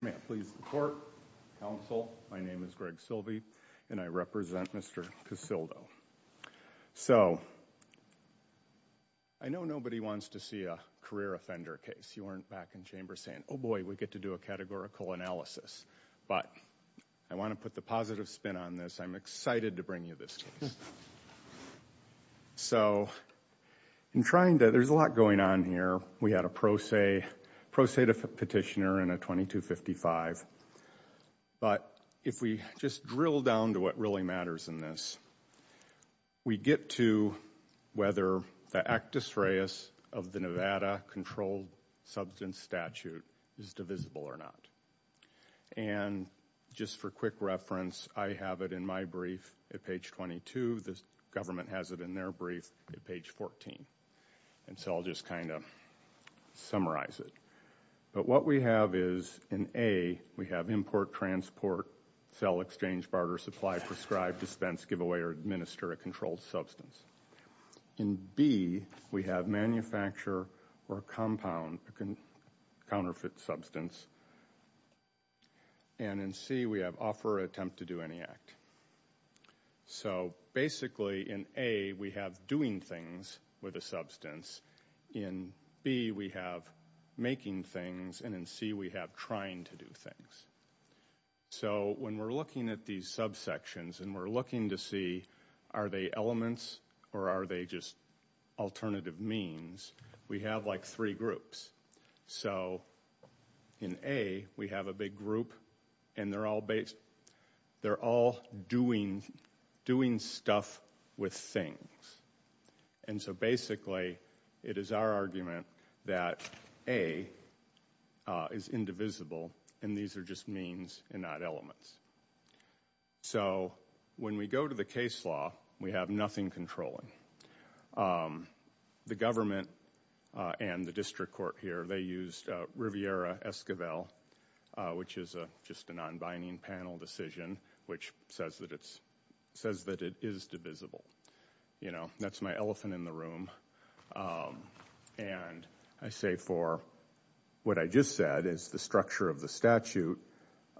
May I please report? Counsel, my name is Greg Silvey, and I represent Mr. Casildo. So, I know nobody wants to see a career offender case. You weren't back in chamber saying, oh boy, we get to do a categorical analysis. But I want to put the positive spin on this. I'm excited to bring you this case. So, in trying to, there's a lot going on here. We had a pro se, pro se petitioner in a 2255. But if we just drill down to what really matters in this, we get to whether the actus reus of the Nevada controlled substance statute is divisible or not. And just for quick reference, I have it in my brief at page 22. The government has it in their brief at page 14. And so I'll just kind of summarize it. But what we have is in A, we have import, transport, sell, exchange, barter, supply, prescribe, dispense, give away, or administer a controlled substance. In B, we have manufacture or compound a counterfeit substance. And in C, we have offer or attempt to do any act. So, basically, in A, we have doing things with a substance. In B, we have making things. And in C, we have trying to do things. So, when we're looking at these subsections and we're looking to see are they elements or are they just alternative means, we have like three groups. So, in A, we have a big group and they're all doing stuff with things. And so, basically, it is our argument that A is indivisible and these are just means and not elements. So, when we go to the case law, we have nothing controlling. The government and the district court here, they used Riviera-Esquivel, which is just a non-binding panel decision, which says that it is divisible. You know, that's my elephant in the room. And I say for what I just said is the structure of the statute.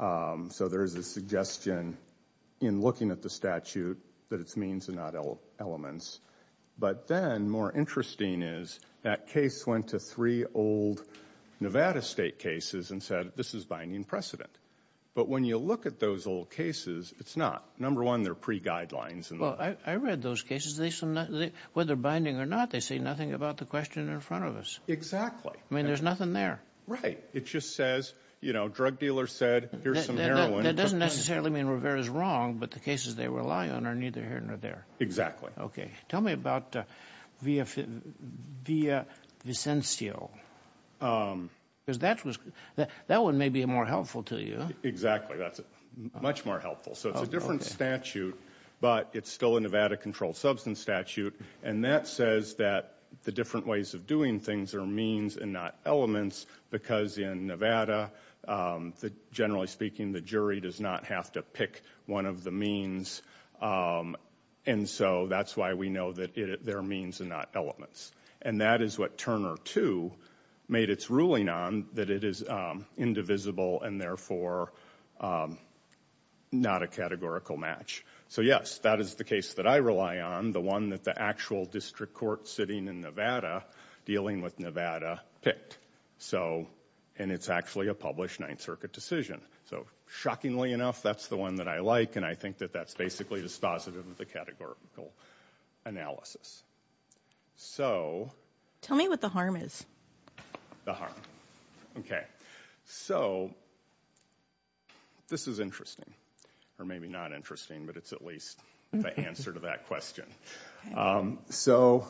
So, there's a suggestion in looking at the statute that it's means and not elements. But then, more interesting is that case went to three old Nevada state cases and said this is binding precedent. But when you look at those old cases, it's not. Number one, they're pre-guidelines. Well, I read those cases. Whether binding or not, they say nothing about the question in front of us. Exactly. I mean, there's nothing there. Right. It just says, you know, drug dealer said, here's some heroin. That doesn't necessarily mean Riviera's wrong, but the cases they rely on are neither here nor there. Okay. Tell me about Via Vicencio. Because that one may be more helpful to you. Exactly. That's much more helpful. So, it's a different statute, but it's still a Nevada controlled substance statute. And that says that the different ways of doing things are means and not elements, because in Nevada, generally speaking, the jury does not have to pick one of the means. And so, that's why we know that they're means and not elements. And that is what Turner 2 made its ruling on, that it is indivisible and, therefore, not a categorical match. So, yes, that is the case that I rely on, the one that the actual district court sitting in Nevada, dealing with Nevada, picked. So, and it's actually a published Ninth Circuit decision. So, shockingly enough, that's the one that I like, and I think that that's basically dispositive of the categorical analysis. So. Tell me what the harm is. The harm. Okay. So, this is interesting, or maybe not interesting, but it's at least the answer to that question. So,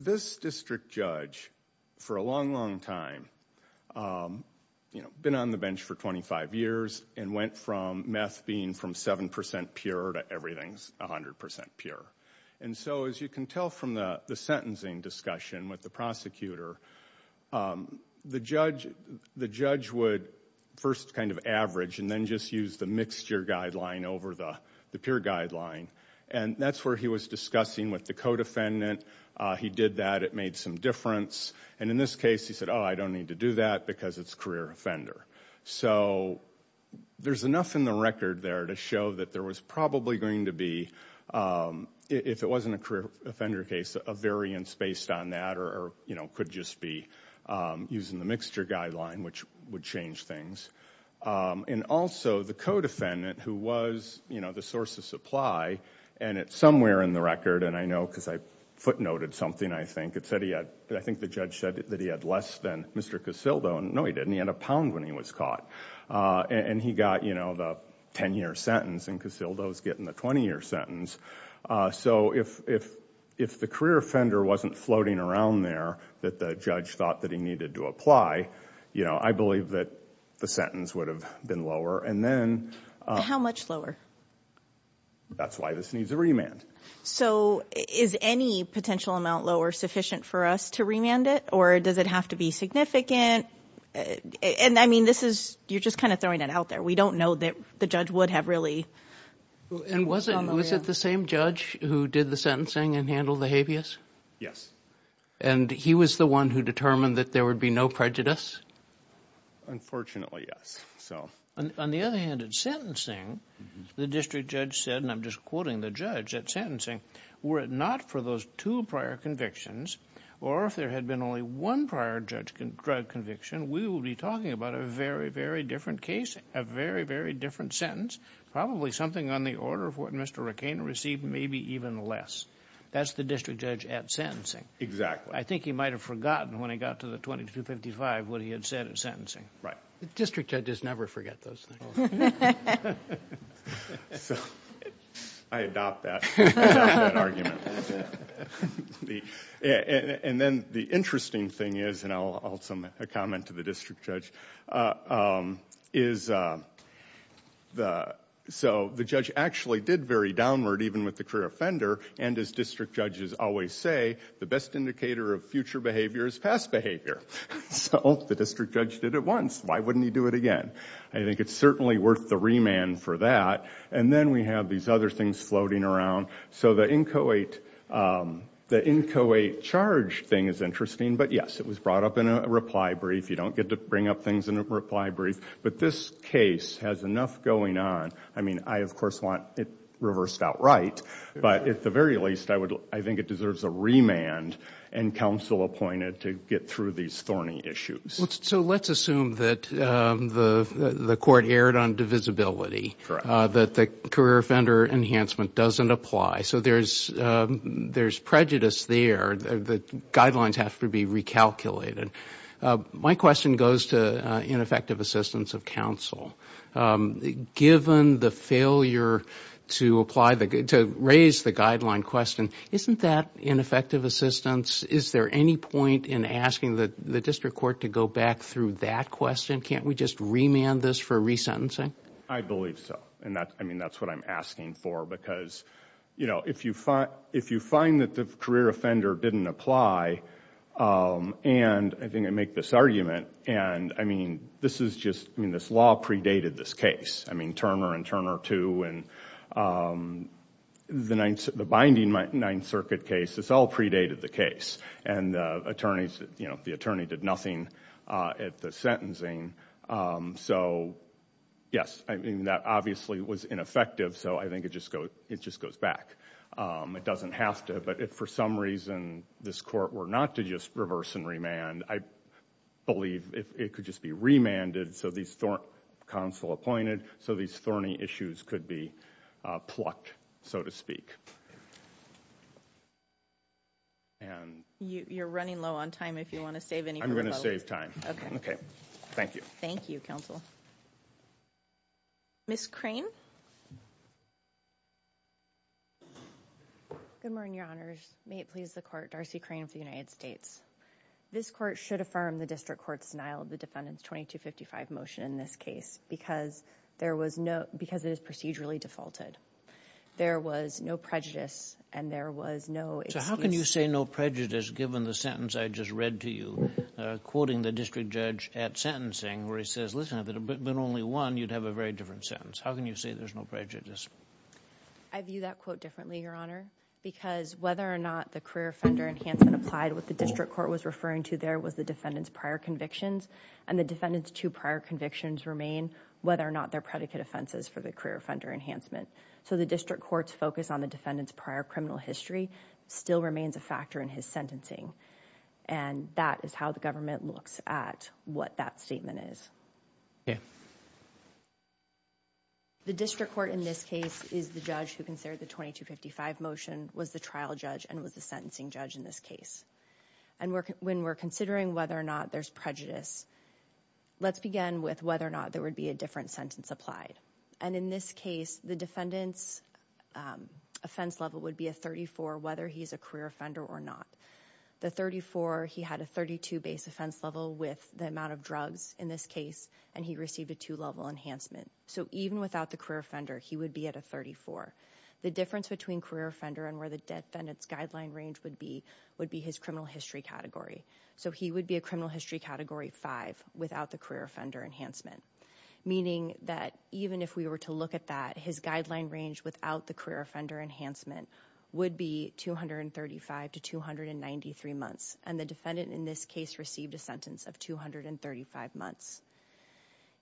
this district judge, for a long, long time, you know, been on the bench for 25 years, and went from meth being from 7% pure to everything's 100% pure. And so, as you can tell from the sentencing discussion with the prosecutor, the judge would first kind of average and then just use the mixture guideline over the pure guideline. And that's where he was discussing with the co-defendant. He did that. It made some difference. And in this case, he said, oh, I don't need to do that because it's career offender. So, there's enough in the record there to show that there was probably going to be, if it wasn't a career offender case, a variance based on that, or, you know, could just be using the mixture guideline, which would change things. And also, the co-defendant, who was, you know, the source of supply, and it's somewhere in the record, and I know because I footnoted something, I think, it said he had, I think the judge said that he had less than Mr. Casildo. No, he didn't. He had a pound when he was caught. And he got, you know, the 10-year sentence, and Casildo's getting the 20-year sentence. So, if the career offender wasn't floating around there that the judge thought that he needed to apply, you know, I believe that the sentence would have been lower. And then – How much lower? That's why this needs a remand. So, is any potential amount lower sufficient for us to remand it, or does it have to be significant? And, I mean, this is – you're just kind of throwing it out there. We don't know that the judge would have really – And was it the same judge who did the sentencing and handled the habeas? Yes. And he was the one who determined that there would be no prejudice? Unfortunately, yes. On the other hand, at sentencing, the district judge said – and I'm just quoting the judge – at sentencing, were it not for those two prior convictions, or if there had been only one prior drug conviction, we would be talking about a very, very different case, a very, very different sentence, probably something on the order of what Mr. Recana received, maybe even less. That's the district judge at sentencing. Exactly. I think he might have forgotten when he got to the 2255 what he had said at sentencing. Right. District judges never forget those things. I adopt that argument. And then the interesting thing is – and I'll also make a comment to the district judge – so the judge actually did very downward, even with the career offender, and as district judges always say, the best indicator of future behavior is past behavior. So the district judge did it once. Why wouldn't he do it again? I think it's certainly worth the remand for that. And then we have these other things floating around. So the inchoate charge thing is interesting, but yes, it was brought up in a reply brief. You don't get to bring up things in a reply brief. But this case has enough going on. I mean, I, of course, want it reversed outright, but at the very least I think it deserves a remand and counsel appointed to get through these thorny issues. So let's assume that the court erred on divisibility, that the career offender enhancement doesn't apply. So there's prejudice there. The guidelines have to be recalculated. My question goes to ineffective assistance of counsel. Given the failure to raise the guideline question, isn't that ineffective assistance? Is there any point in asking the district court to go back through that question? Can't we just remand this for resentencing? I believe so. I mean, that's what I'm asking for, because if you find that the career offender didn't apply, and I think I make this argument, and I mean, this is just, I mean, this law predated this case. I mean, Turner and Turner II and the binding Ninth Circuit case, this all predated the case. And the attorneys, you know, the attorney did nothing at the sentencing. So, yes, I mean, that obviously was ineffective, so I think it just goes back. It doesn't have to, but if for some reason this court were not to just reverse and remand, I believe it could just be remanded, so these thorny issues could be plucked, so to speak. You're running low on time, if you want to save any more time. I'm going to save time. Thank you. Thank you, counsel. Ms. Crane. Good morning, Your Honors. May it please the court, Darcy Crane of the United States. This court should affirm the district court's denial of the defendant's 2255 motion in this case, because it is procedurally defaulted. There was no prejudice, and there was no excuse. So how can you say no prejudice, given the sentence I just read to you, quoting the district judge at sentencing, where he says, listen, if it had been only one, you'd have a very different sentence. How can you say there's no prejudice? I view that quote differently, Your Honor, because whether or not the career offender enhancement applied, what the district court was referring to there was the defendant's prior convictions, and the defendant's two prior convictions remain, whether or not they're predicate offenses for the career offender enhancement. So the district court's focus on the defendant's prior criminal history still remains a factor in his sentencing, and that is how the government looks at what that statement is. Okay. The district court in this case is the judge who considered the 2255 motion, was the trial judge, and was the sentencing judge in this case. And when we're considering whether or not there's prejudice, let's begin with whether or not there would be a different sentence applied. And in this case, the defendant's offense level would be a 34, whether he's a career offender or not. The 34, he had a 32 base offense level with the amount of drugs in this case, and he received a two-level enhancement. So even without the career offender, he would be at a 34. The difference between career offender and where the defendant's guideline range would be would be his criminal history category. So he would be a criminal history category 5 without the career offender enhancement, meaning that even if we were to look at that, his guideline range without the career offender enhancement would be 235 to 293 months. And the defendant in this case received a sentence of 235 months.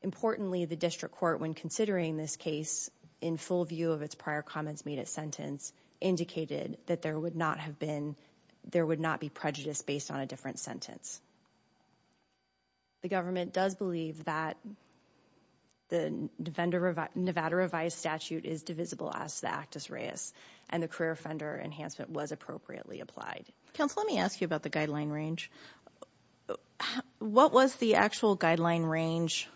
Importantly, the district court, when considering this case, in full view of its prior comments made at sentence, indicated that there would not be prejudice based on a different sentence. The government does believe that the Nevada revised statute is divisible as to the actus reus, and the career offender enhancement was appropriately applied. Counsel, let me ask you about the guideline range. What was the actual guideline range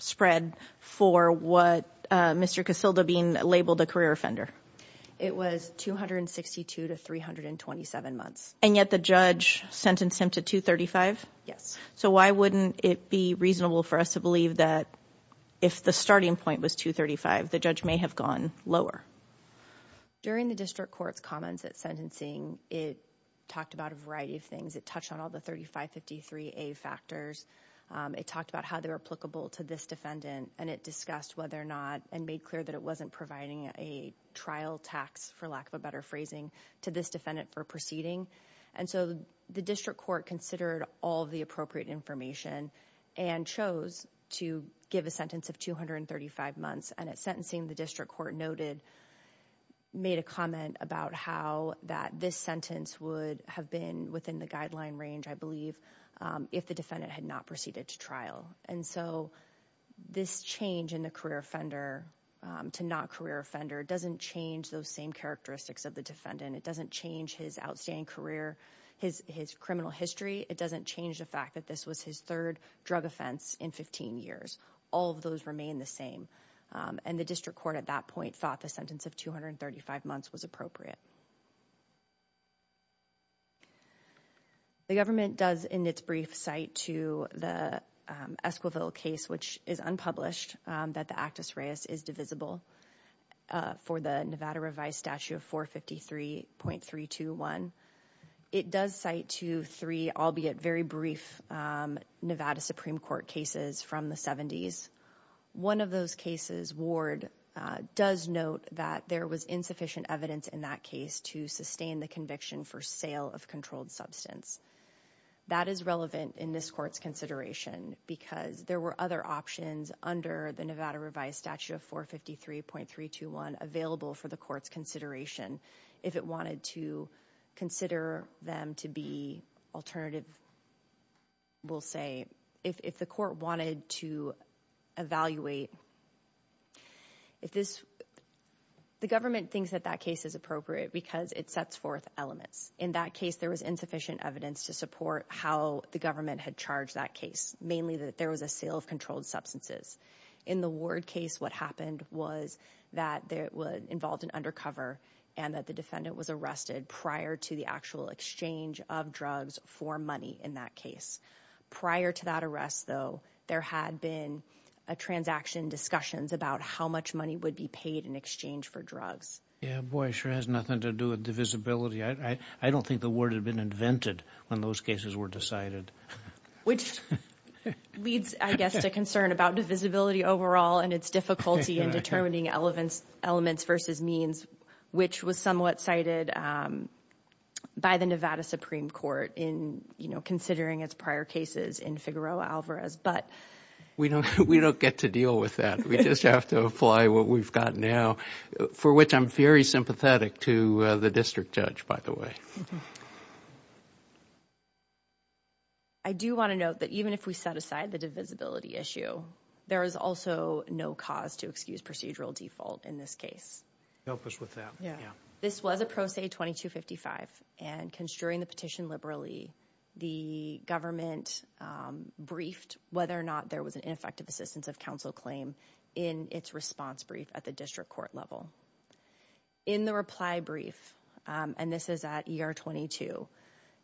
spread for what Mr. Casilda Bean labeled a career offender? It was 262 to 327 months. And yet the judge sentenced him to 235? Yes. So why wouldn't it be reasonable for us to believe that if the starting point was 235, the judge may have gone lower? During the district court's comments at sentencing, it talked about a variety of things. It touched on all the 3553A factors. It talked about how they were applicable to this defendant, and it discussed whether or not, and made clear that it wasn't providing a trial tax, for lack of a better phrasing, to this defendant for proceeding. And so the district court considered all the appropriate information and chose to give a sentence of 235 months. And at sentencing, the district court noted, made a comment about how that this sentence would have been within the guideline range, I believe, if the defendant had not proceeded to trial. And so this change in the career offender to not career offender doesn't change those same characteristics of the defendant. It doesn't change his outstanding career, his criminal history. It doesn't change the fact that this was his third drug offense in 15 years. All of those remain the same. And the district court at that point thought the sentence of 235 months was appropriate. The government does, in its brief, cite to the Esquivel case, which is unpublished, that the actus reus is divisible for the Nevada revised statute of 453.321. It does cite to three, albeit very brief, Nevada Supreme Court cases from the 70s. One of those cases, Ward does note that there was insufficient evidence in that case to sustain the conviction for sale of controlled substance. That is relevant in this court's consideration because there were other options under the Nevada revised statute of 453.321 available for the court's consideration. If it wanted to consider them to be alternative, we'll say, if the court wanted to evaluate. The government thinks that that case is appropriate because it sets forth elements. In that case, there was insufficient evidence to support how the government had charged that case, mainly that there was a sale of controlled substances. In the Ward case, what happened was that it involved an undercover and that the defendant was arrested prior to the actual exchange of drugs for money in that case. Prior to that arrest, though, there had been transaction discussions about how much money would be paid in exchange for drugs. Yeah, boy, it sure has nothing to do with divisibility. I don't think the Ward had been invented when those cases were decided. Which leads, I guess, to concern about divisibility overall and its difficulty in determining elements versus means, which was somewhat cited by the Nevada Supreme Court in considering its prior cases in Figueroa Alvarez. We don't get to deal with that. We just have to apply what we've got now, for which I'm very sympathetic to the district judge, by the way. I do want to note that even if we set aside the divisibility issue, there is also no cause to excuse procedural default in this case. Help us with that. This was a Pro Se 2255, and construing the petition liberally, the government briefed whether or not there was an ineffective assistance of counsel claim in its response brief at the district court level. In the reply brief, and this is at ER 22,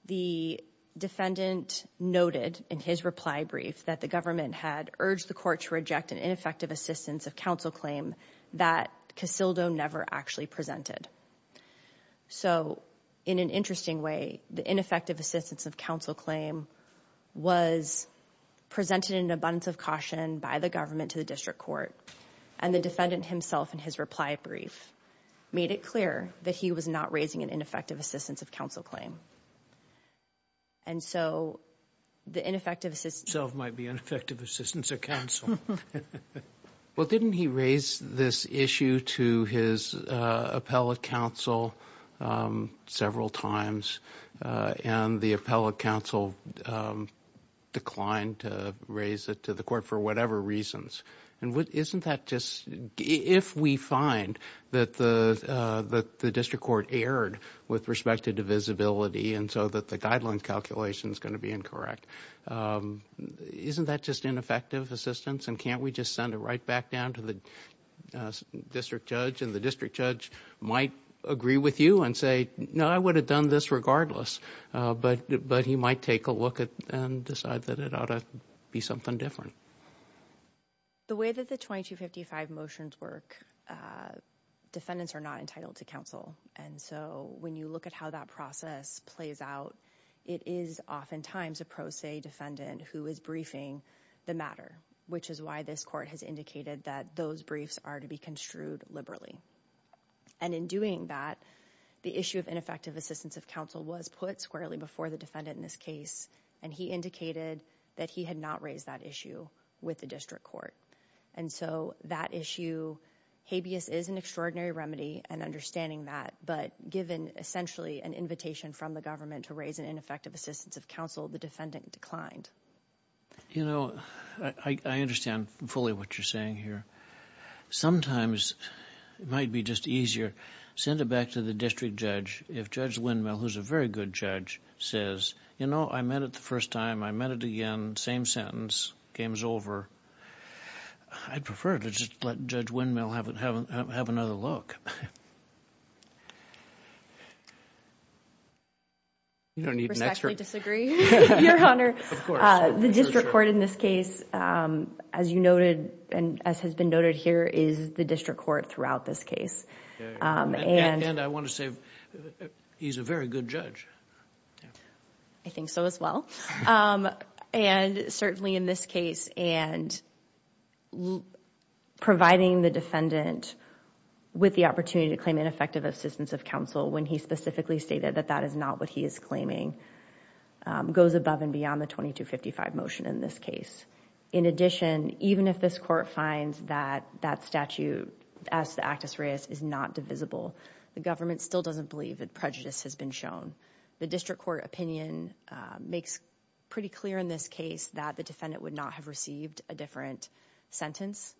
the defendant noted in his reply brief that the government had urged the court to reject an ineffective assistance of counsel claim that Casildo never actually presented. So, in an interesting way, the ineffective assistance of counsel claim was presented in abundance of caution by the government to the district court, and the defendant himself in his reply brief made it clear that he was not raising an ineffective assistance of counsel claim. And so, the ineffective assistance... ...might be ineffective assistance of counsel. Well, didn't he raise this issue to his appellate counsel several times, and the appellate counsel declined to raise it to the court for whatever reasons? And isn't that just... If we find that the district court erred with respect to divisibility, and so that the guidelines calculation is going to be incorrect, isn't that just ineffective assistance, and can't we just send it right back down to the district judge, and the district judge might agree with you and say, no, I would have done this regardless, but he might take a look and decide that it ought to be something different. The way that the 2255 motions work, defendants are not entitled to counsel. And so, when you look at how that process plays out, it is oftentimes a pro se defendant who is briefing the matter, which is why this court has indicated that those briefs are to be construed liberally. And in doing that, the issue of ineffective assistance of counsel was put squarely before the defendant in this case, and he indicated that he had not raised that issue with the district court. And so, that issue, habeas is an extraordinary remedy, and understanding that, but given essentially an invitation from the government to raise an ineffective assistance of counsel, the defendant declined. You know, I understand fully what you're saying here. Sometimes, it might be just easier, send it back to the district judge, if Judge Windmill, who's a very good judge, says, you know, I met it the first time, I met it again, same sentence, game's over. I'd prefer to just let Judge Windmill have another look. You don't need an expert. Respectfully disagree, Your Honor. Of course. The district court in this case, as you noted, and as has been noted here, is the district court throughout this case. And I want to say, he's a very good judge. I think so as well. And certainly in this case, and providing the defendant with the opportunity to claim ineffective assistance of counsel when he specifically stated that that is not what he is claiming, goes above and beyond the 2255 motion in this case. In addition, even if this court finds that that statute, as the Actus Reis, is not divisible, the government still doesn't believe that prejudice has been shown. The district court opinion makes pretty clear in this case that the defendant would not have received a different sentence.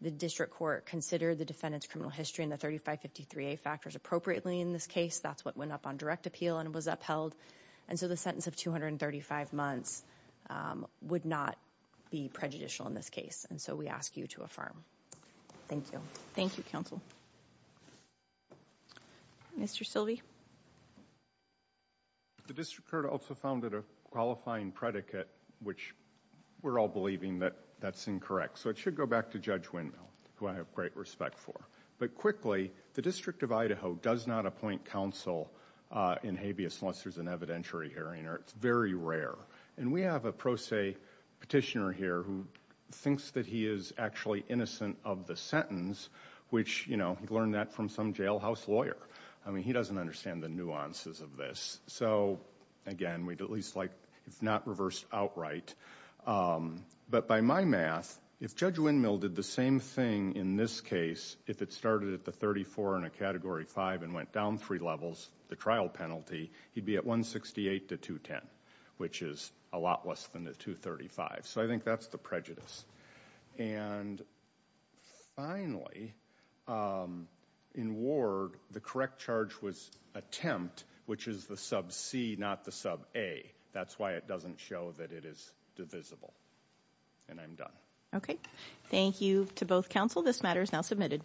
The district court considered the defendant's criminal history and the 3553A factors appropriately in this case. That's what went up on direct appeal and was upheld. And so the sentence of 235 months would not be prejudicial in this case. And so we ask you to affirm. Thank you. Thank you, counsel. Mr. Silvey? The district court also found that a qualifying predicate, which we're all believing that that's incorrect. So it should go back to Judge Windmill, who I have great respect for. But quickly, the District of Idaho does not appoint counsel in habeas unless there's an evidentiary hearing, or it's very rare. And we have a pro se petitioner here who thinks that he is actually innocent of the sentence, which, you know, he learned that from some jailhouse lawyer. I mean, he doesn't understand the nuances of this. So, again, we'd at least like it's not reversed outright. But by my math, if Judge Windmill did the same thing in this case, if it started at the 34 in a Category 5 and went down three levels, the trial penalty, he'd be at 168 to 210, which is a lot less than the 235. So I think that's the prejudice. And finally, in Ward, the correct charge was attempt, which is the sub C, not the sub A. That's why it doesn't show that it is divisible. And I'm done. Okay. Thank you to both counsel. This matter is now submitted.